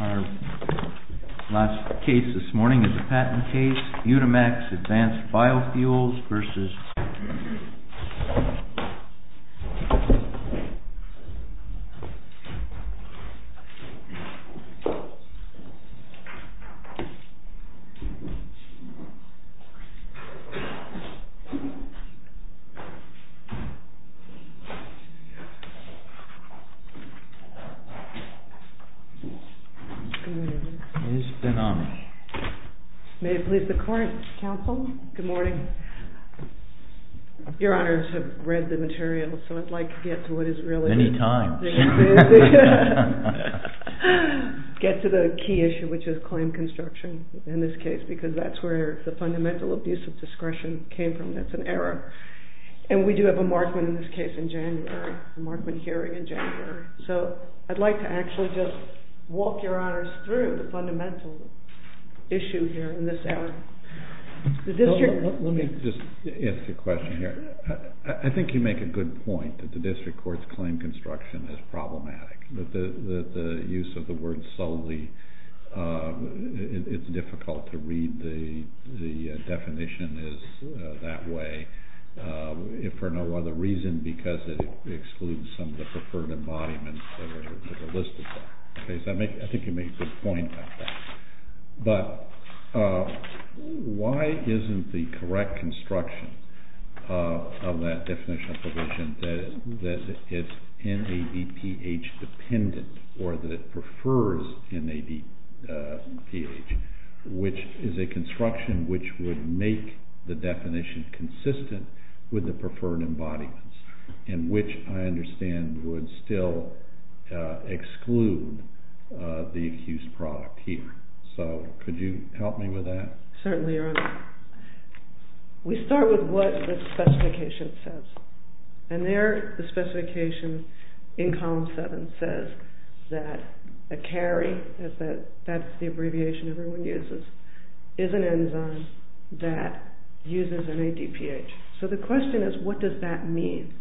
Our last case this morning is a patent case, UNIMAX ADVANCED BIOFUELS v. BENAMI May it please the court, counsel. Good morning. Your honors have read the material, so I'd like to get to what is really the key issue, which is claim construction in this case, because that's where the fundamental abuse of discretion came from. That's an error. And we do have a Markman in this case in January, a Markman hearing in January. So I'd like to actually just walk your honors through the fundamental issue here in this area. Let me just ask you a question here. I think you make a good point that the district court's claim construction is problematic, that the use of the word solely, it's difficult to read the definition as that way, if for no other reason because it exceeds the definition and excludes some of the preferred embodiments that are listed there. I think you make a good point about that. But why isn't the correct construction of that definition of provision that it's NADPH dependent or that it prefers NADPH, which is a construction which would make the definition consistent with the preferred embodiments, and which I understand would still exclude the accused product here. So could you help me with that? Certainly, your honor. We start with what the specification says. And there the specification in column seven says that a CARI, that's the abbreviation everyone uses, is an enzyme that uses NADPH. So the question is, what does that mean,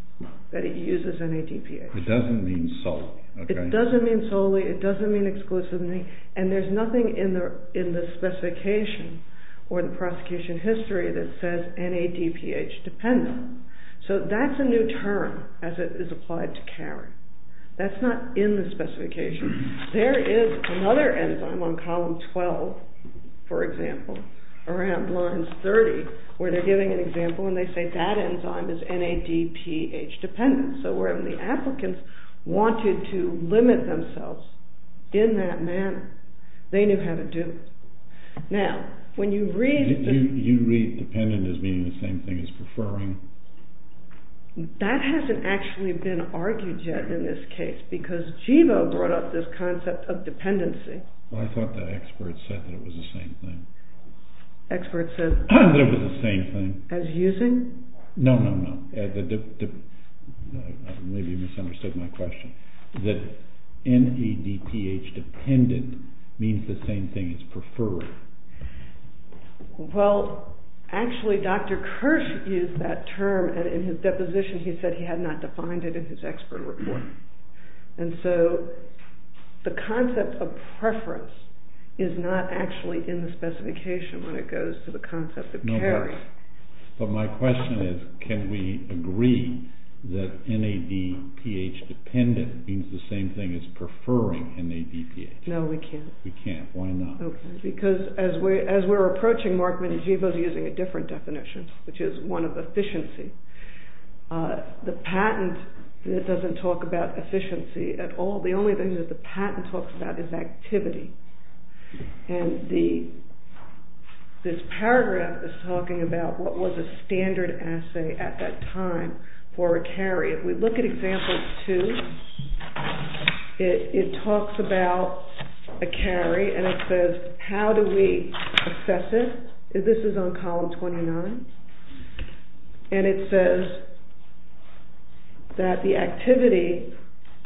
that it uses NADPH? It doesn't mean solely. It doesn't mean solely, it doesn't mean exclusively, and there's nothing in the specification or the prosecution history that says NADPH dependent. So that's a new term as it is applied to CARI. That's not in the specification. There is another enzyme on column 12, for example, in column 30, where they're giving an example and they say that enzyme is NADPH dependent. So when the applicants wanted to limit themselves in that manner, they knew how to do it. Now, when you read... Do you read dependent as being the same thing as preferring? That hasn't actually been argued yet in this case, because Givo brought up this concept of dependency. Well, I thought that expert said that it was the same thing. Expert said... That it was the same thing. As using? No, no, no. Maybe you misunderstood my question. That NADPH dependent means the same thing as preferring. Well, actually, Dr. Kirsch used that term, and in his deposition he said he had not defined it in his expert report. And so the concept of preference is not actually in the specification when it goes to the concept of CARI. No, but my question is, can we agree that NADPH dependent means the same thing as preferring NADPH? No, we can't. We can't. Why not? Because as we're approaching Markman and Givo's using a different definition, which is one of efficiency, the patent doesn't talk about efficiency at all. The only thing that the patent talks about is activity. And this paragraph is talking about what was a standard assay at that time for a CARI. If we look at example 2, it talks about a CARI, and it says that the activity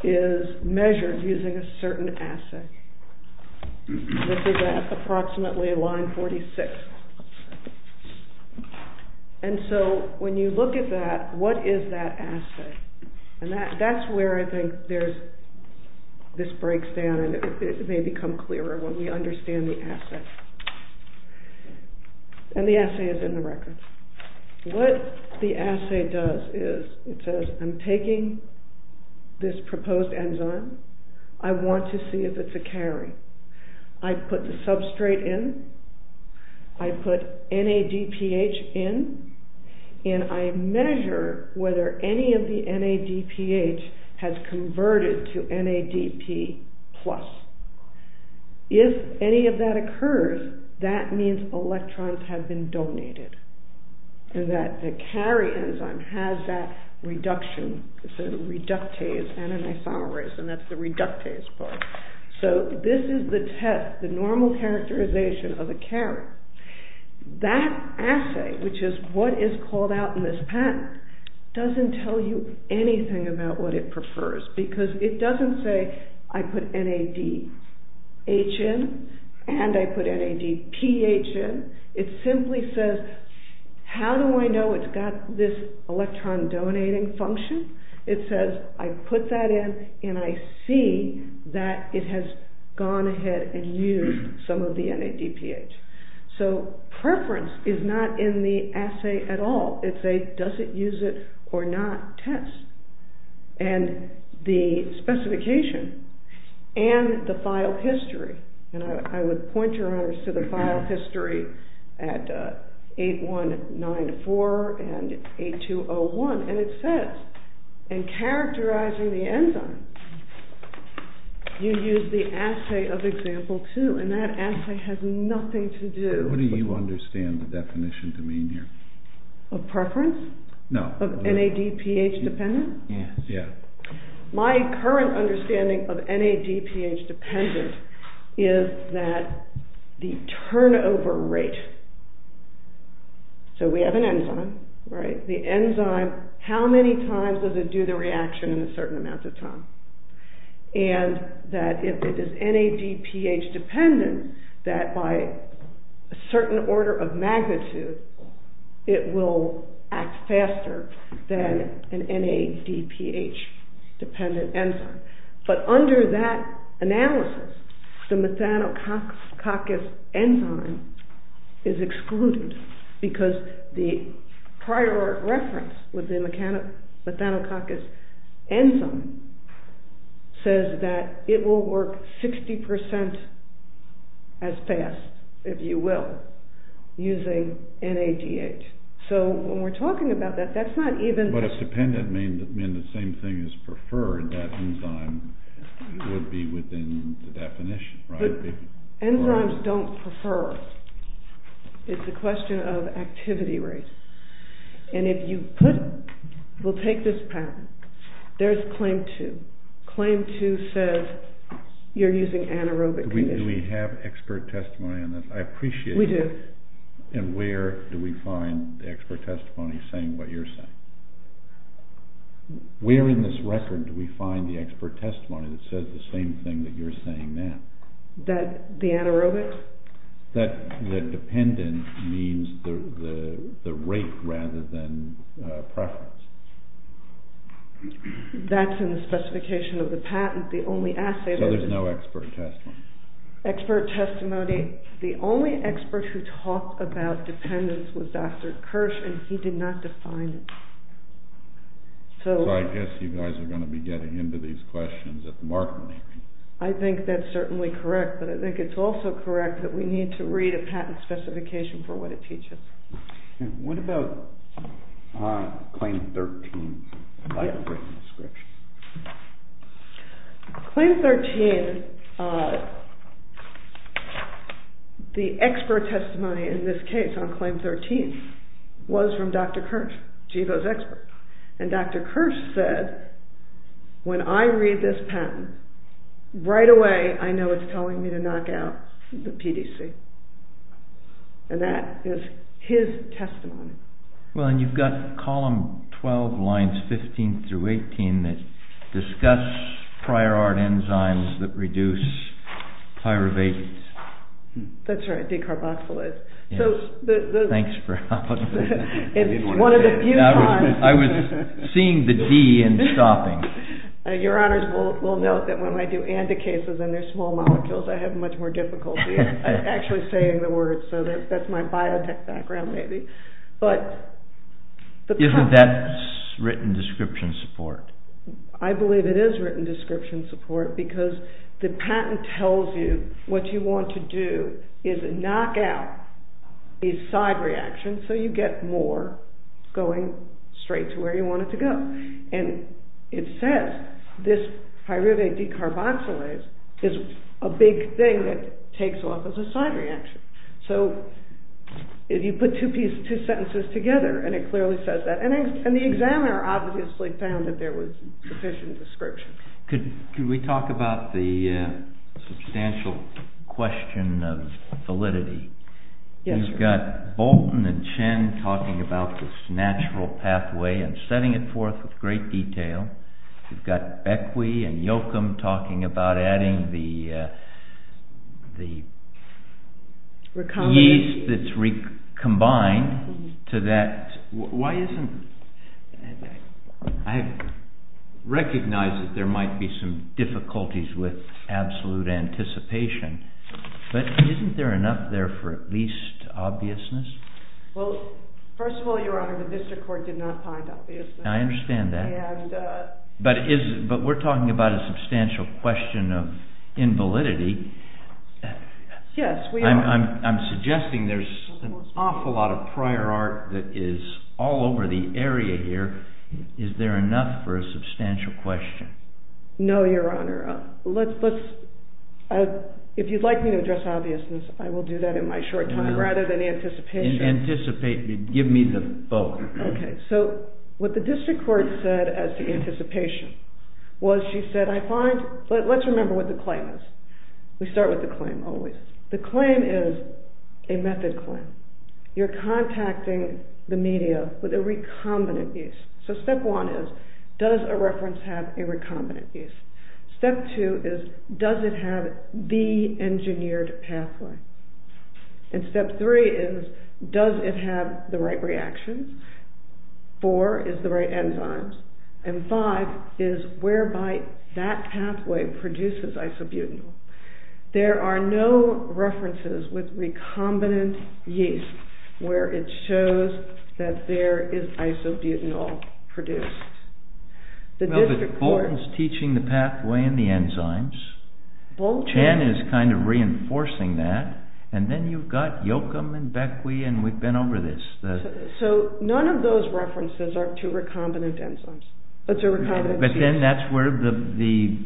is measured using a certain assay. This is at approximately line 46. And so when you look at that, what is that assay? And that's where I think this breaks down and it may become clearer when we understand the assay. And the assay is in the record. What the assay does is it says I'm taking this proposed enzyme, I want to see if it's a CARI. I put the substrate in, I put NADPH in, and I measure whether any of the NADPH has converted to NADP+. If any of that occurs, that means electrons have been donated, and that the CARI enzyme has that reduction, it's a reductase, and an isomerase, and that's the reductase part. So this is the test, the normal characterization of a CARI. That assay, which is what is called out in this patent, doesn't tell you anything about what it prefers, because it doesn't say I put NADH in, and I put NADPH in, it simply says how do I know it's got this electron donating function? It says I put that in, and I see that it has gone ahead and used some of the NADPH. So preference is not in the assay at all. It's a does it use it or not test. And the specification and the file history, and I would point your honors to the file history at 8194 and 8201, and it says in characterizing the enzyme, you use the assay of example two, and that assay has nothing to do. What do you understand the definition to mean here? Of preference? No. Of NADPH dependent? Yes. My current understanding of NADPH dependent is that the turnover rate, so we have an enzyme, right, the enzyme, how many times does it do the reaction in a certain amount of time? And that if it is NADPH dependent, that by a certain order of magnitude, it will act faster than an NADPH dependent enzyme. But under that analysis, the methanococcus enzyme is excluded, because the prior reference with the methanococcus enzyme says that it will work 60% as fast, if you will, using NADH. So when we're talking about that, that's not even... But if dependent means the same thing as preferred, that enzyme would be within the definition, right? Enzymes don't prefer. It's a question of activity rates. And if you put, we'll take this pattern, there's claim two. Claim two says you're using anaerobic conditions. Do we have expert testimony on this? I appreciate that. We do. And where do we find the expert testimony saying what you're saying? Where in this record do we find the expert testimony saying that? That the anaerobic? That dependent means the rate rather than preference. That's in the specification of the patent. The only assay... So there's no expert testimony? Expert testimony, the only expert who talked about dependence was Dr. Kirsch, and he did not define it. So I guess you guys are going to be getting into these questions at the market meeting. I think that's certainly correct, but I think it's also correct that we need to read a patent specification for what it teaches. What about claim 13? I haven't written the description. Claim 13, the expert testimony in this case on claim 13 was from Dr. Kirsch, GEVO's expert. And Dr. Kirsch said, when I read this patent, right away I know it's telling me to knock out the PDC. And that is his testimony. Well and you've got column 12 lines 15 through 18 that discuss prior art enzymes that reduce pyruvate. That's right, decarboxylase. Thanks for helping me. I was seeing the D and stopping. Your honors will note that when I do anti-cases and they're small molecules, I have much more difficulty actually saying the words. So that's my biotech background maybe. Isn't that written description support? Because the patent tells you what you want to do is knock out a side reaction so you get more going straight to where you want it to go. And it says this pyruvate decarboxylase is a big thing that takes off as a side reaction. So if you put two sentences together and it clearly says that. And the examiner obviously found that there was sufficient description. Could we talk about the substantial question of validity? Yes. You've got Bolton and Chen talking about this natural pathway and setting it forth with great detail. You've got Bequia and Yocum talking about adding the yeast that's recombined to that. I recognize that there might be some difficulties with absolute anticipation. But isn't there enough there for at least obviousness? Well, first of all, your honor, the district court did not find obviousness. I understand that. But we're talking about a substantial question of invalidity. Yes, we are. I'm suggesting there's an awful lot of prior art that is all over the area here. Is there enough for a substantial question? No, your honor. If you'd like me to address obviousness, I will do that in my short time rather than anticipation. Anticipate. Give me the vote. Okay. So what the district court said as to anticipation was she said, I find, let's remember what the claim is. We start with the claim always. The claim is a method claim. You're contacting the media with a recombinant yeast. So step one is, does a reference have a recombinant yeast? Step two is, does it have the engineered pathway? And step three is, does it have the right reactions? Four is the right enzymes. And five is whereby that pathway produces isobutanol. There are no references with recombinant yeast where it shows that there is isobutanol produced. The district court... Well, but Bolton's teaching the pathway and the enzymes. Bolton... Chan is kind of reinforcing that. And then you've got Yochum and Bequia and we've been over this. So none of those references are to recombinant enzymes. But then that's where the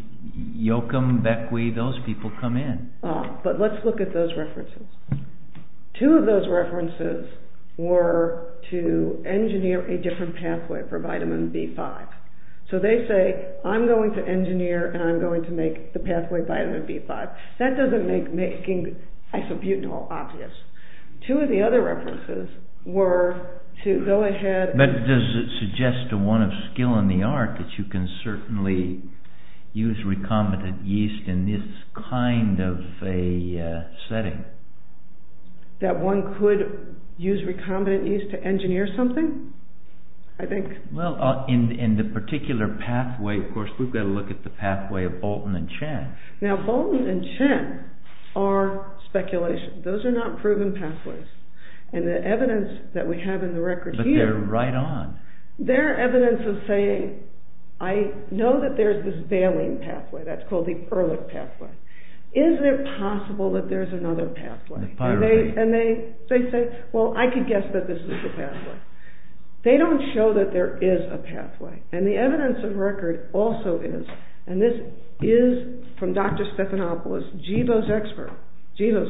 Yochum, Bequia, those people come in. But let's look at those references. Two of those references were to engineer a different pathway for vitamin B5. So they say, I'm going to engineer and I'm going to make the pathway vitamin B5. That doesn't make making isobutanol obvious. Two of the other references were to go ahead... But does it suggest to one of skill in the art that you can certainly use recombinant yeast in this kind of a setting? That one could use recombinant yeast to engineer something? I think... Well, in the particular pathway, of course, we've got to look at the pathway of Bolton and Chan. Now, Bolton and Chan, those are not proven pathways. And the evidence that we have in the record here... But they're right on. They're evidence of saying, I know that there's this valine pathway, that's called the Ehrlich pathway. Isn't it possible that there's another pathway? And they say, well, I could guess that this is the pathway. They don't show that there is a pathway. And the evidence of record also is, and this is from Dr. Stephanopoulos, GEVO's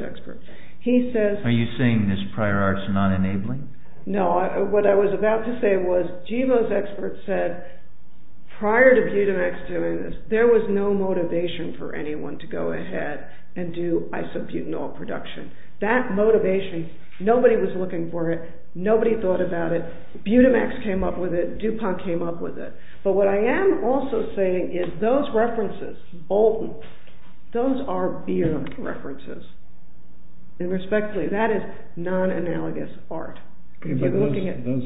expert. He says... Are you saying this prior art's not enabling? No. What I was about to say was, GEVO's expert said, prior to Budamex doing this, there was no motivation for anyone to go ahead and do isobutanol production. That motivation, nobody was looking for it. Nobody thought about it. Budamex came up with it. DuPont came up with it. But what I am also saying is, those references, Bolton, those are beer references. And respectfully, that is non-analogous art. Those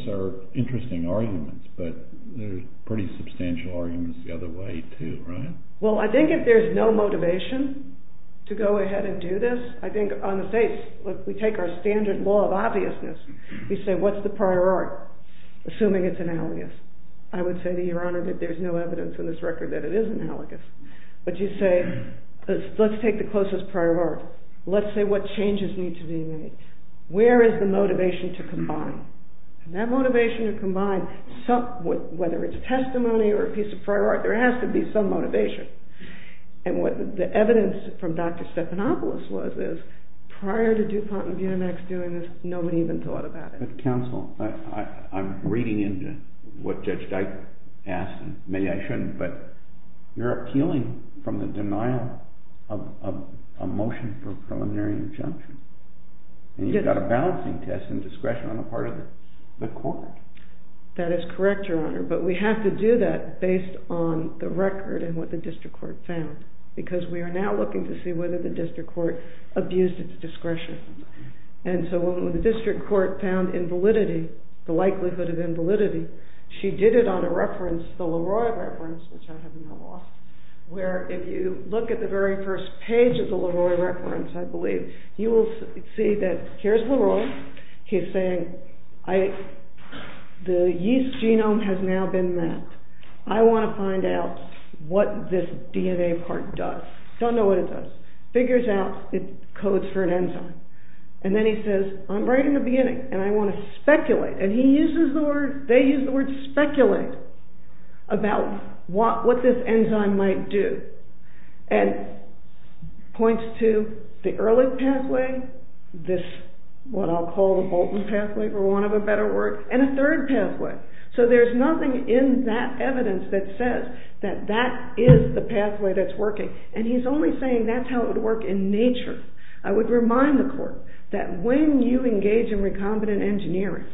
are interesting arguments, but they're pretty substantial arguments the other way too, right? Well, I think if there's no motivation to go ahead and do this, I think on the face, if we take our standard law of obviousness, we say, what's the prior art? Assuming it's analogous, you say to your honor that there's no evidence in this record that it is analogous. But you say, let's take the closest prior art. Let's say what changes need to be made. Where is the motivation to combine? And that motivation to combine, whether it's testimony or a piece of prior art, there has to be some motivation. And what the evidence from Dr. Stephanopoulos was is, prior to DuPont and Budamex doing this, nobody even thought about it. But counsel, I'm reading into what Judge Dike asked, and maybe I shouldn't, but you're appealing from the denial of a motion for preliminary injunction. And you've got a balancing test in discretion on the part of the court. That is correct, your honor. But we have to do that based on the record and what the district court found. Because we are now looking to see whether the district court abused its the likelihood of invalidity. She did it on a reference, the Leroy reference, which I have now lost, where if you look at the very first page of the Leroy reference, I believe, you will see that here's Leroy. He's saying, the yeast genome has now been mapped. I want to find out what this DNA part does. Don't know what it does. Figures out it codes for speculate. And he uses the word, they use the word speculate about what this enzyme might do. And points to the Ehrlich pathway, this, what I'll call the Bolton pathway for want of a better word, and a third pathway. So there's nothing in that evidence that says that that is the pathway that's working. And he's only saying that's how it would work in nature. I would remind the court that when you engage in recombinant engineering,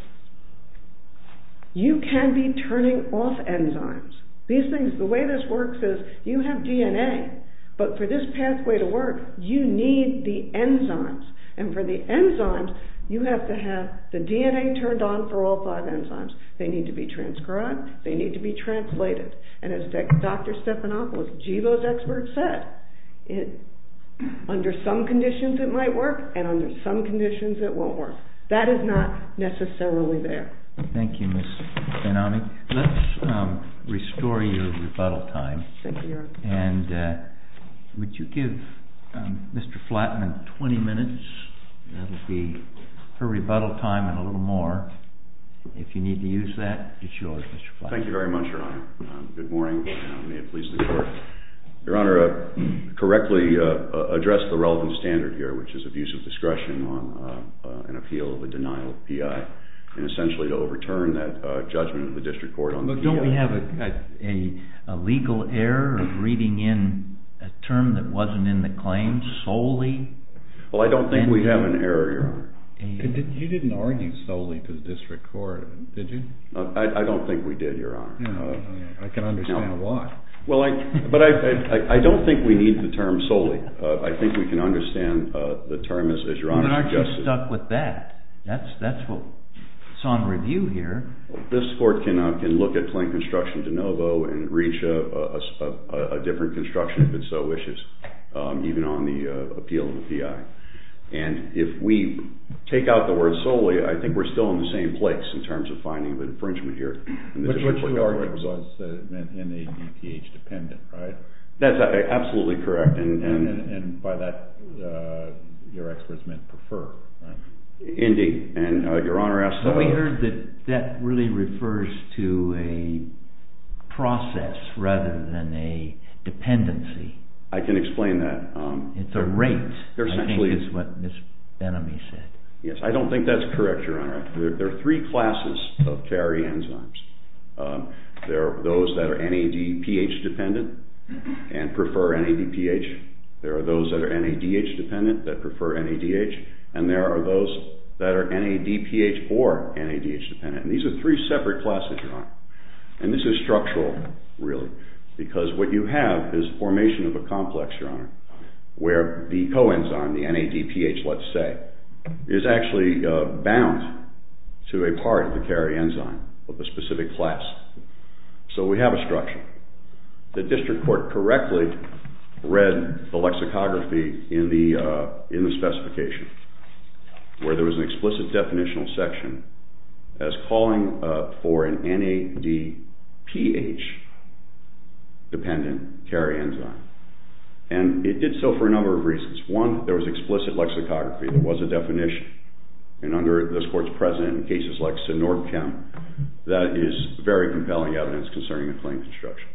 you can be turning off enzymes. These things, the way this works is you have DNA, but for this pathway to work, you need the enzymes. And for the enzymes, you have to have the DNA turned on for all five enzymes. They need to be transcribed, they need to be translated. And as Dr. Stephanopoulos, Jibo's expert, said, under some conditions it might work, and under some conditions it won't work. That is not necessarily there. Thank you, Ms. Ben-Ami. Let's restore your rebuttal time. Thank you, Your Honor. And would you give Mr. Flattman 20 minutes? That'll be her rebuttal time and a little more. If you need to use that, it's yours, Mr. Flattman. Thank you very much, Your Honor. Good morning, and may it please the Court. Your Honor, I correctly addressed the relevant standard here, which is abuse of discretion on an appeal of a denial of PI, and essentially to overturn that judgment of the district court on the PI. But don't we have a legal error of reading in a term that wasn't in the claim solely? Well, I don't think we have an error, Your Honor. You didn't argue solely for the district court, did you? I don't think we did, Your Honor. I can understand why. But I don't think we need the term solely. I think we can understand the term, as Your Honor suggested. But aren't you stuck with that? That's what's on review here. This Court can look at plain construction de novo and reach a different construction if it so wishes, even on the appeal of the PI. And if we take out the word solely, I don't think we have an error in terms of finding the infringement here. But what you argued was that it meant NADPH dependent, right? That's absolutely correct. And by that, you're experts meant prefer, right? Indeed. And Your Honor asked... But we heard that that really refers to a process rather than a dependency. I can explain that. It's a rate, I think, is what Ms. Benamy said. Yes, I don't think that's correct, Your Honor. There are three classes of carry enzymes. There are those that are NADPH dependent and prefer NADPH. There are those that are NADH dependent that prefer NADH. And there are those that are NADPH or NADH dependent. And these are three separate classes, Your Honor. And this is structural, really, because what you have is formation of a complex, Your Honor, where the coenzyme, the NADPH, let's say, is actually bound to a part of the carry enzyme of a specific class. So we have a structure. The district court correctly read the lexicography in the specification where there was an explicit definitional section as calling for an NADPH dependent carry enzyme. And it did so for a number of reasons. One, there was explicit lexicography. There was a definition, and under this court's precedent, in cases like SINORP count, that is very compelling evidence concerning the claim construction.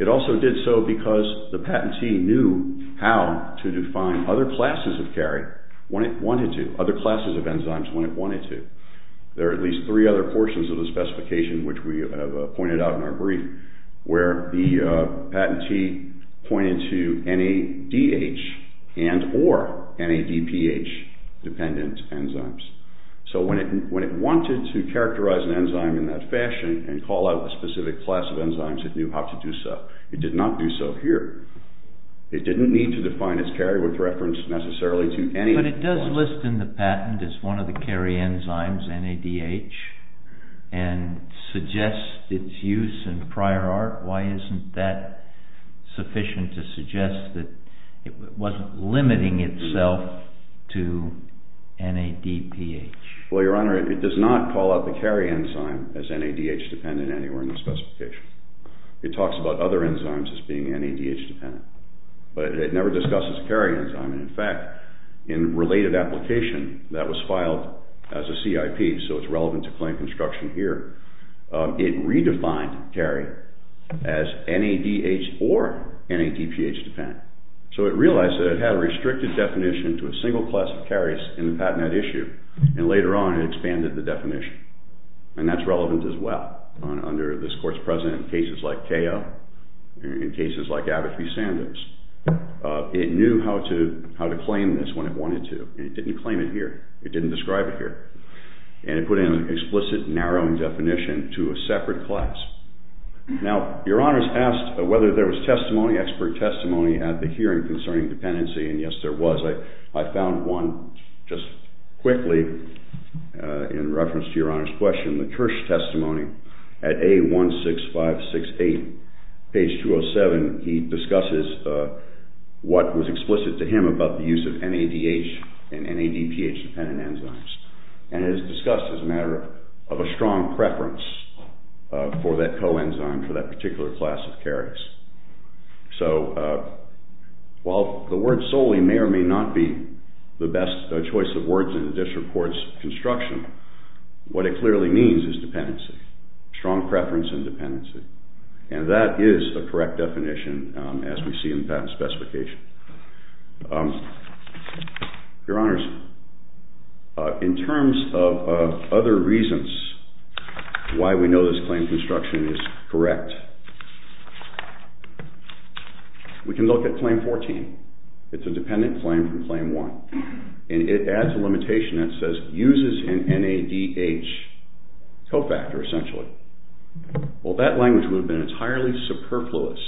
It also did so because the patentee knew how to define other classes of carry when it wanted to, other classes of enzymes when it wanted to. There are at least three other portions of the specification, which we have pointed out in our brief, where the patentee pointed to NADH and or NADPH dependent enzymes. So when it wanted to characterize an enzyme in that fashion and call out a specific class of enzymes, it knew how to do so. It did not do so here. It didn't need to define its carry with reference necessarily to any... But it does list in the patent as one of the carry enzymes, NADH, and suggests its use in prior art. Why isn't that sufficient to suggest that it wasn't limiting itself to NADPH? Well, Your Honor, it does not call out the carry enzyme as NADH dependent anywhere in the specification. It talks about other enzymes as being NADH dependent. But it never discusses carry enzyme. In fact, in related application, that was filed as a CIP, so it's relevant to claim construction here. It redefined carry as NADH or NADPH dependent. So it realized that it had a restricted definition to a single class of carries in the Patent Act issue, and later on it expanded the definition. And that's relevant as well under this Court's precedent in cases like CAO, in cases like Abbott v. Sanders. It knew how to claim this when it wanted to. It didn't claim it here. It didn't describe it here. And it put in an explicit, narrowing definition to a separate class. Now, Your Honor's asked whether there was testimony, expert testimony, at the hearing concerning dependency, and yes, there was. I found one just quickly in reference to Your Honor's question, the Kirsch testimony at A16568, page 207. He discusses what was explicit to him about the use of NADH and NADPH dependent enzymes. And it is discussed as a matter of a strong preference for that coenzyme, for that particular class of carries. So while the word solely may or may not be the best choice of words in this report's construction, what it clearly means is dependency, strong preference and dependency. And that is a correct definition, as we see in the patent specification. Your Honors, in terms of other reasons why we know this claim construction is correct, we can look at Claim 14. It's a dependent claim from Claim 1. And it adds a limitation that says, uses an NADH cofactor, essentially. Well, that language would have been entirely superfluous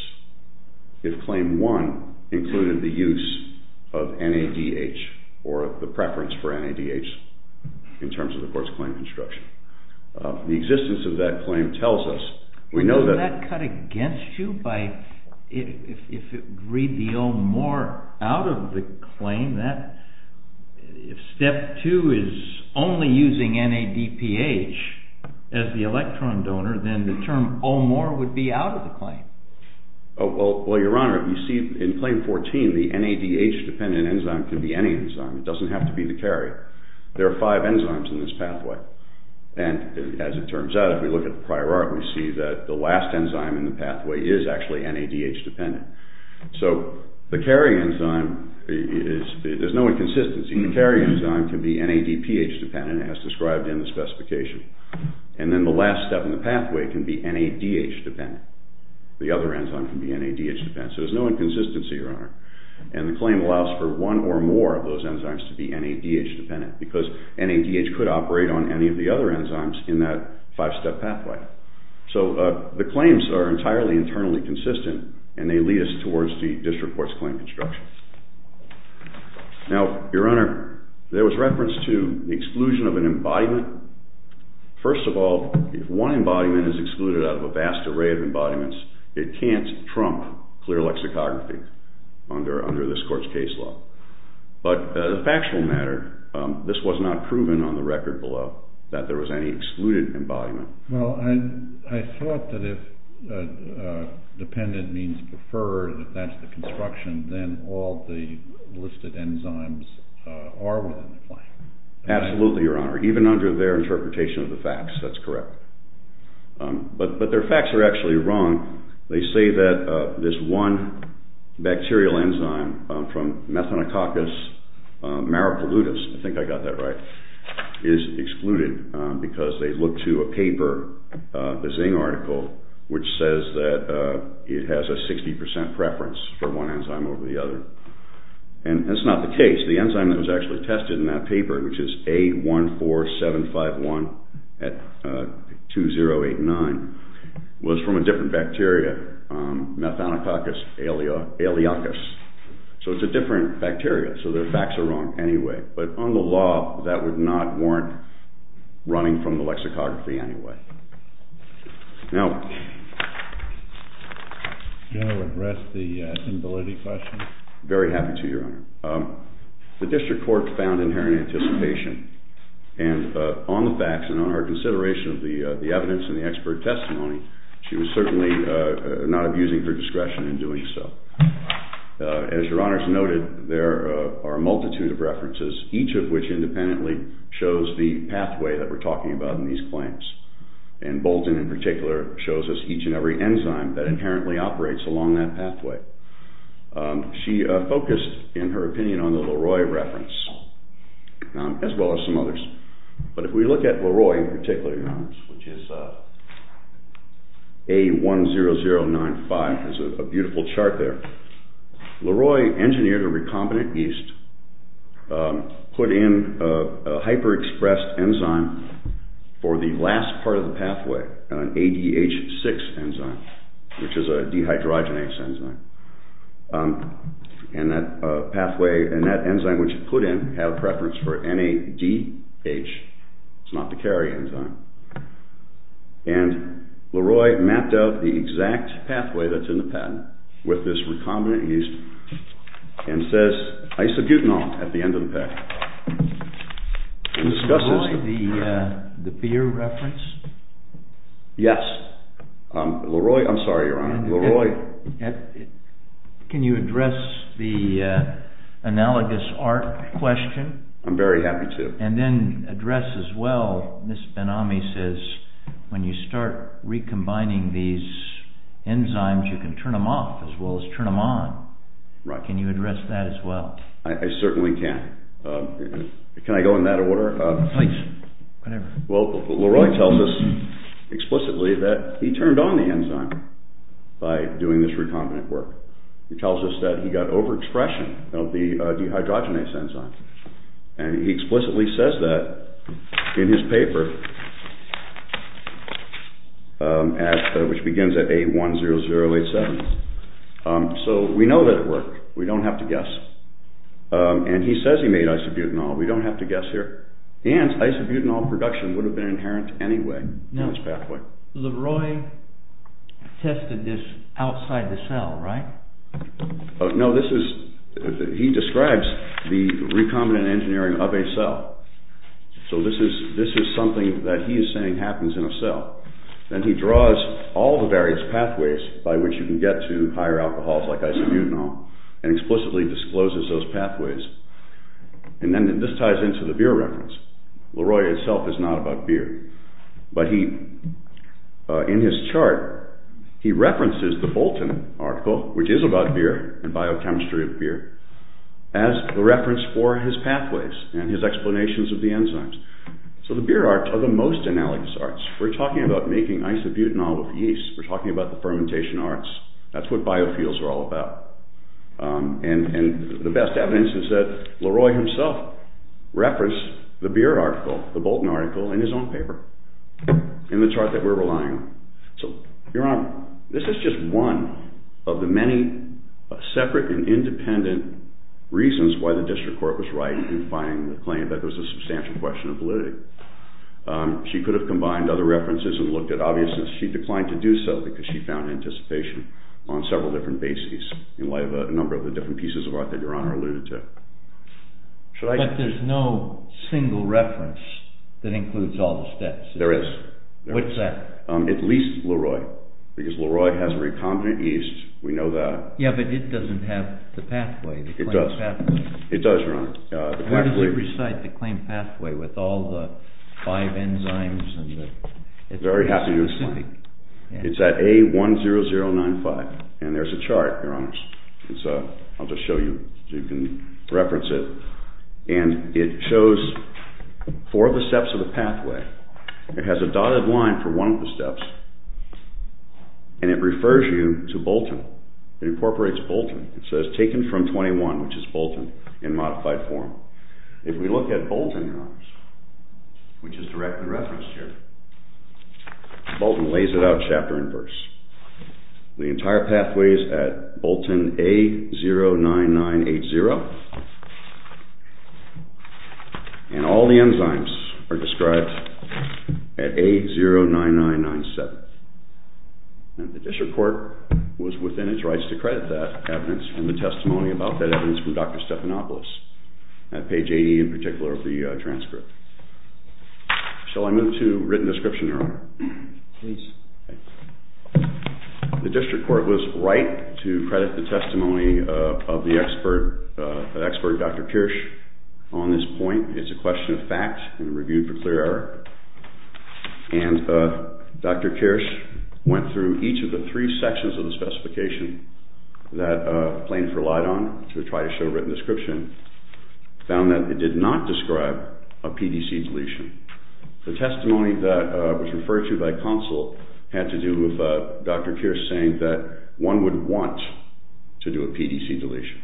if Claim 1 included the use of NADH or the preference for NADH in terms of the court's claim construction. The existence of that claim tells us we know that. Isn't that cut against you by if it would read the O-more out of the claim? If Step 2 is only using NADPH as the electron donor, then the term O-more would be out of the claim. Well, Your Honor, in Claim 14, the NADH-dependent enzyme can be any enzyme. It doesn't have to be the carry. There are five enzymes in this pathway. And as it turns out, if we look at the prior art, we see that the last enzyme in the pathway is actually NADH-dependent. So the carry enzyme, there's no inconsistency. The carry enzyme can be NADPH-dependent, as described in the specification. And then the last step in the pathway can be NADH-dependent. The other enzyme can be NADH-dependent. So there's no inconsistency, Your Honor. And the claim allows for one or more of those enzymes to be NADH-dependent because NADH could operate on any of the other enzymes in that five-step pathway. So the claims are entirely internally consistent, and they lead us towards the district court's claim construction. Now, Your Honor, there was reference to the exclusion of an embodiment First of all, if one embodiment is excluded out of a vast array of embodiments, it can't trump clear lexicography under this court's case law. But the factual matter, this was not proven on the record below that there was any excluded embodiment. Well, I thought that if dependent means preferred, if that's the construction, then all the listed enzymes are within the framework. Absolutely, Your Honor. Even under their interpretation of the facts, that's correct. But their facts are actually wrong. They say that this one bacterial enzyme from Methanococcus maricolutus, I think I got that right, is excluded because they looked to a paper, the Zing article, which says that it has a 60% preference for one enzyme over the other. And that's not the case. The enzyme that was actually tested in that paper, which is A14751-2089, was from a different bacteria, Methanococcus aeolicus. So it's a different bacteria. So their facts are wrong anyway. But on the law, that would not warrant running from the lexicography anyway. Now... Do you want to address the stability question? Very happy to, Your Honor. The district court found inherent anticipation. And on the facts and on our consideration of the evidence and the expert testimony, she was certainly not abusing her discretion in doing so. As Your Honor has noted, there are a multitude of references, each of which independently shows the pathway that we're talking about in these claims. And Bolton, in particular, shows us each and every enzyme that inherently operates along that pathway. She focused, in her opinion, on the Leroy reference, as well as some others. But if we look at Leroy in particular, Your Honors, which is A10095. There's a beautiful chart there. Leroy engineered a recombinant yeast, put in a hyper-expressed enzyme for the last part of the pathway, an ADH6 enzyme, which is a dehydrogenase enzyme. And that pathway, and that enzyme which it put in, had a preference for NADH. It's not the carry enzyme. And Leroy mapped out the exact pathway that's in the patent with this recombinant yeast and says isobutanol at the end of the patent. Who discusses... Leroy, the beer reference? Yes. Leroy, I'm sorry, Your Honor. Leroy. Can you address the analogous art question? I'm very happy to. And then address as well, Ms. Benami says, when you start recombining these enzymes, you can turn them off as well as turn them on. Right. Can you address that as well? I certainly can. Can I go in that order? Please, whatever. Well, Leroy tells us explicitly that he turned on the enzyme by doing this recombinant work. He tells us that he got overexpression of the dehydrogenase enzyme. And he explicitly says that in his paper, which begins at A10087. So we know that it worked. We don't have to guess. And he says he made isobutanol. We don't have to guess here. And isobutanol production would have been inherent anyway in this pathway. Now, Leroy tested this outside the cell, right? No, this is... He describes the recombinant engineering of a cell. So this is something that he is saying happens in a cell. Then he draws all the various pathways by which you can get to higher alcohols like isobutanol and explicitly discloses those pathways. And then this ties into the beer reference. Leroy itself is not about beer. But in his chart, he references the Bolton article, which is about beer and biochemistry of beer, as a reference for his pathways and his explanations of the enzymes. So the beer art are the most analogous arts. We're talking about making isobutanol with yeast. We're talking about the fermentation arts. That's what biofuels are all about. And the best evidence is that Leroy himself referenced the beer article, the Bolton article, in his own paper in the chart that we're relying on. So, Your Honor, this is just one of the many separate and independent reasons why the district court was right in finding the claim that there's a substantial question of validity. She could have combined other references and looked at obviousness. She declined to do so because she found anticipation on several different bases in light of a number of the different pieces of art that Your Honor alluded to. But there's no single reference that includes all the steps. There is. What's that? At least Leroy, because Leroy has a recombinant yeast. We know that. Yeah, but it doesn't have the pathway. It does, Your Honor. Where does it recite the claim pathway with all the five enzymes? I'd be very happy to explain. It's at A10095, and there's a chart, Your Honor. I'll just show you so you can reference it. And it shows four of the steps of the pathway. It has a dotted line for one of the steps, and it refers you to Bolton. It incorporates Bolton. It says taken from 21, which is Bolton, in modified form. If we look at Bolton, Your Honor, which is directly referenced here, Bolton lays it out chapter and verse. The entire pathway is at Bolton A09980, and all the enzymes are described at A09997. And the district court was within its rights to credit that evidence and the testimony about that evidence from Dr. Stephanopoulos at page 80 in particular of the transcript. Shall I move to written description, Your Honor? Please. The district court was right to credit the testimony of the expert, Dr. Kirsch, on this point. It's a question of fact and reviewed for clear error. And Dr. Kirsch went through each of the three sections of the specification that plaintiffs relied on to try to show written description, found that it did not describe a PDC deletion. The testimony that was referred to by counsel had to do with Dr. Kirsch saying that one would want to do a PDC deletion.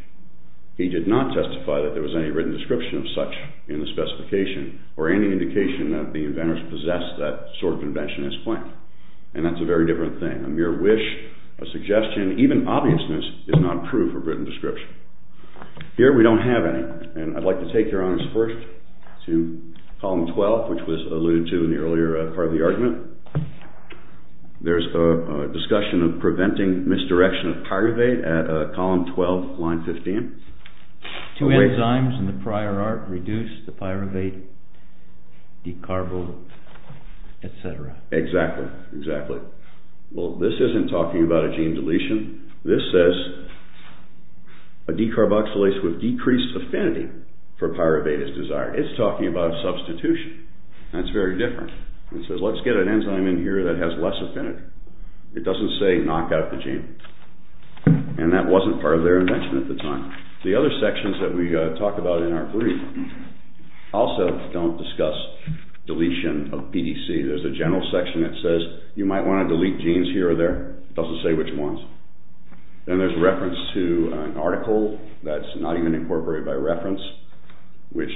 He did not testify that there was any written description of such in the specification or any indication that the inventors possessed that sort of invention as claimed. And that's a very different thing. A mere wish, a suggestion, even obviousness, is not true for written description. Here we don't have any. And I'd like to take, Your Honors, first to column 12, which was alluded to in the earlier part of the argument. There's a discussion of preventing misdirection of pyruvate at column 12, line 15. Two enzymes in the prior art reduce the pyruvate, decarbo, etc. Exactly, exactly. Well, this isn't talking about a gene deletion. This says a decarboxylase with decreased affinity for pyruvate is desired. It's talking about substitution. That's very different. It says let's get an enzyme in here that has less affinity. It doesn't say knock out the gene. And that wasn't part of their invention at the time. The other sections that we talk about in our brief also don't discuss deletion of PDC. There's a general section that says you might want to delete genes here or there. It doesn't say which ones. Then there's reference to an article that's not even incorporated by reference, which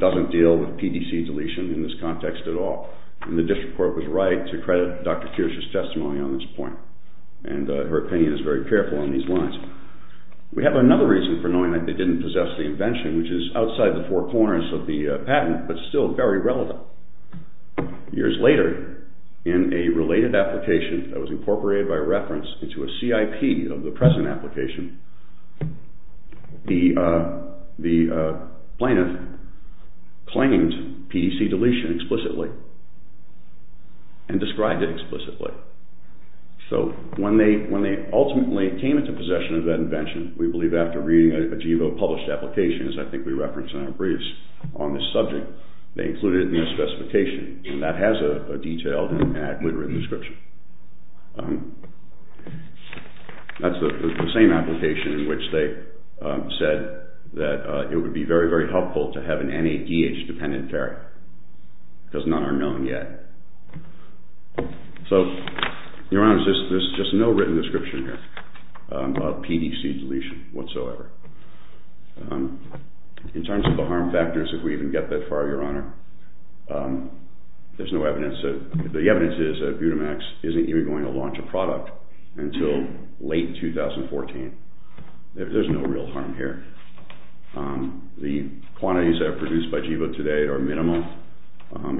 doesn't deal with PDC deletion in this context at all. And the district court was right to credit Dr. Kirsch's testimony on this point and her opinion is very careful on these lines. We have another reason for knowing that they didn't possess the invention, which is outside the four corners of the patent but still very relevant. Years later, in a related application that was incorporated by reference into a CIP of the present application, the plaintiff claimed PDC deletion explicitly and described it explicitly. So when they ultimately came into possession of that invention, we believe after reading a GIVO published application, as I think we referenced in our briefs on this subject, they included it in their specification and that has a detailed and accurately written description. That's the same application in which they said that it would be very, very helpful to have an NADH dependent variant because none are known yet. So, Your Honor, there's just no written description here of PDC deletion whatsoever. In terms of the harm factors, if we even get that far, Your Honor, the evidence is that Budimax isn't even going to launch a product until late 2014. There's no real harm here. The quantities that are produced by GIVO today are minimal,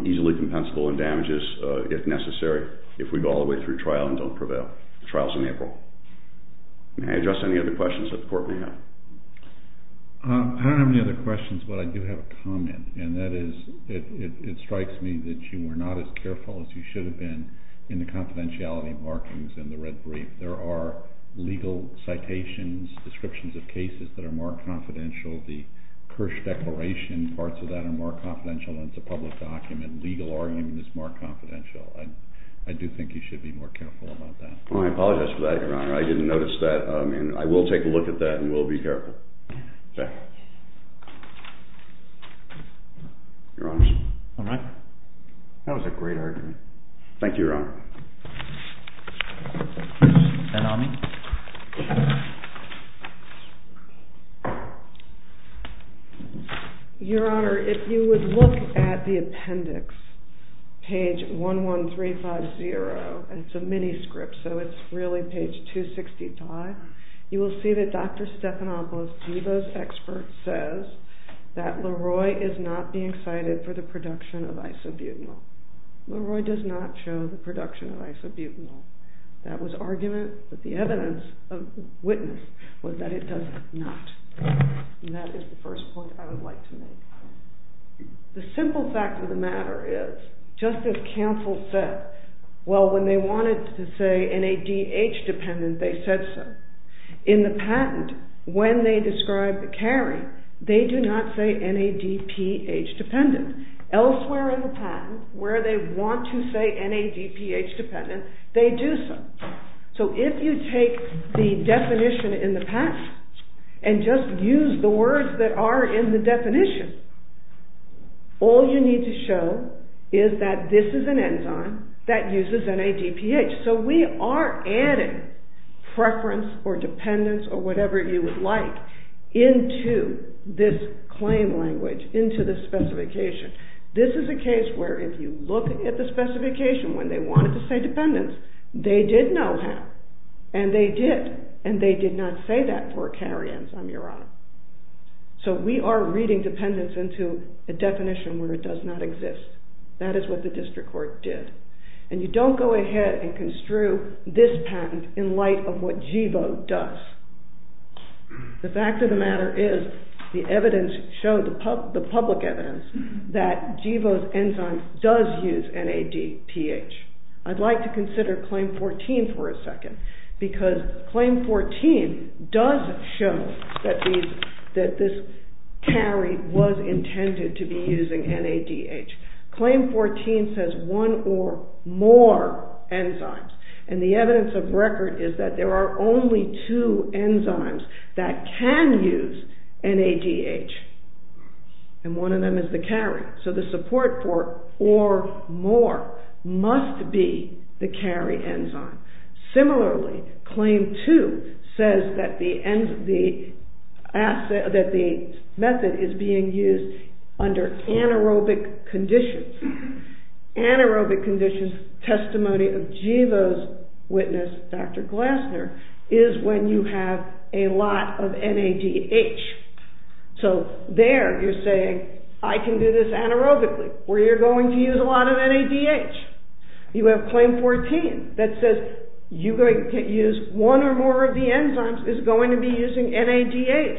easily compensable in damages if necessary if we go all the way through trial and don't prevail. The trial is in April. May I address any other questions that the Court may have? I don't have any other questions, but I do have a comment, and that is it strikes me that you were not as careful as you should have been in the confidentiality markings in the red brief. There are legal citations, descriptions of cases that are more confidential. The Kirsch Declaration parts of that are more confidential. It's a public document. Legal argument is more confidential. I do think you should be more careful about that. I apologize for that, Your Honor. I didn't notice that. I will take a look at that and will be careful. Thank you. All right. That was a great argument. Thank you, Your Honor. Ben Ami. Your Honor, if you would look at the appendix, page 11350, and it's a mini script so it's really page 265, you will see that Dr. Stephanopoulos, GIVO's expert, says that Leroy is not being cited for the production of isobutanol. Leroy does not show the production of isobutanol. That was argument that the evidence of witness was that it does not, and that is the first point I would like to make. The simple fact of the matter is, just as counsel said, well, when they wanted to say NADH dependent, they said so. In the patent, when they described the carry, they do not say NADPH dependent. Elsewhere in the patent, where they want to say NADPH dependent, they do so. So if you take the definition in the patent and just use the words that are in the definition, all you need to show is that this is an enzyme that uses NADPH. So we are adding preference or dependence or whatever you would like into this claim language, into this specification. This is a case where if you look at the specification when they wanted to say dependence, they did know how, and they did, and they did not say that for a carry enzyme, Your Honor. So we are reading dependence into a definition where it does not exist. That is what the district court did. And you don't go ahead and construe this patent in light of what GIVO does. The fact of the matter is the evidence showed, the public evidence, that GIVO's enzyme does use NADPH. I'd like to consider Claim 14 for a second because Claim 14 does show that this carry was intended to be using NADH. Claim 14 says one or more enzymes, and the evidence of record is that there are only two enzymes that can use NADH, and one of them is the carry. So the support for or more must be the carry enzyme. Similarly, Claim 2 says that the method is being used under anaerobic conditions. Anaerobic conditions, testimony of GIVO's witness, Dr. Glasner, is when you have a lot of NADH. So there you're saying, I can do this anaerobically, where you're going to use a lot of NADH. You have Claim 14 that says one or more of the enzymes is going to be using NADH.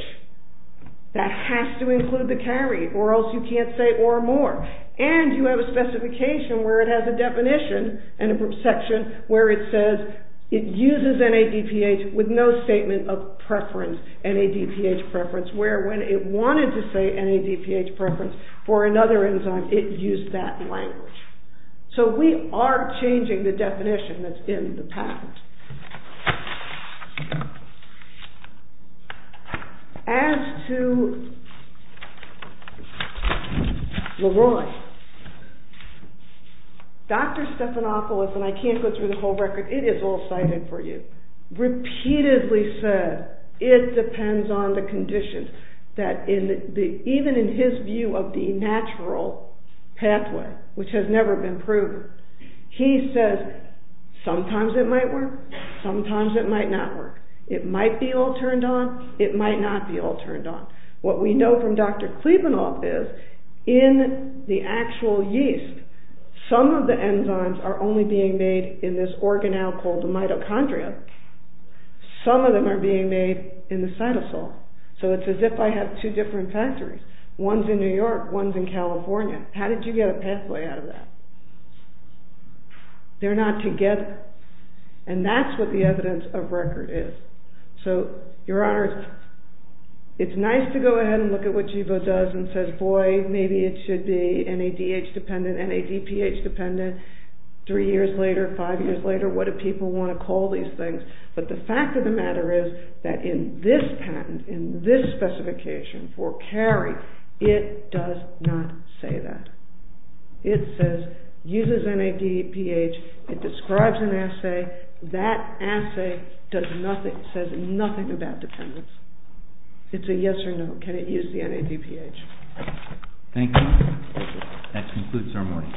That has to include the carry or else you can't say or more. And you have a specification where it has a definition and a section where it says it uses NADPH with no statement of preference, NADPH preference, where when it wanted to say NADPH preference for another enzyme, it used that language. So we are changing the definition that's in the patent. As to Leroy, Dr. Stephanopoulos, and I can't go through the whole record, it is all cited for you, repeatedly said it depends on the conditions, that even in his view of the natural pathway, which has never been proven, he says sometimes it might work, sometimes it might not work. It might be all turned on, it might not be all turned on. What we know from Dr. Klebanoff is, in the actual yeast, some of the enzymes are only being made in this organelle called the mitochondria, some of them are being made in the cytosol. So it's as if I have two different factories. One's in New York, one's in California. How did you get a pathway out of that? They're not together. And that's what the evidence of record is. So, Your Honors, it's nice to go ahead and look at what GEVO does and says, boy, maybe it should be NADH dependent, NADPH dependent, three years later, five years later, what do people want to call these things? But the fact of the matter is that in this patent, in this specification for Cary, it does not say that. It says, uses NADPH, it describes an assay, that assay does nothing, says nothing about dependence. It's a yes or no, can it use the NADPH. Thank you. That concludes our morning.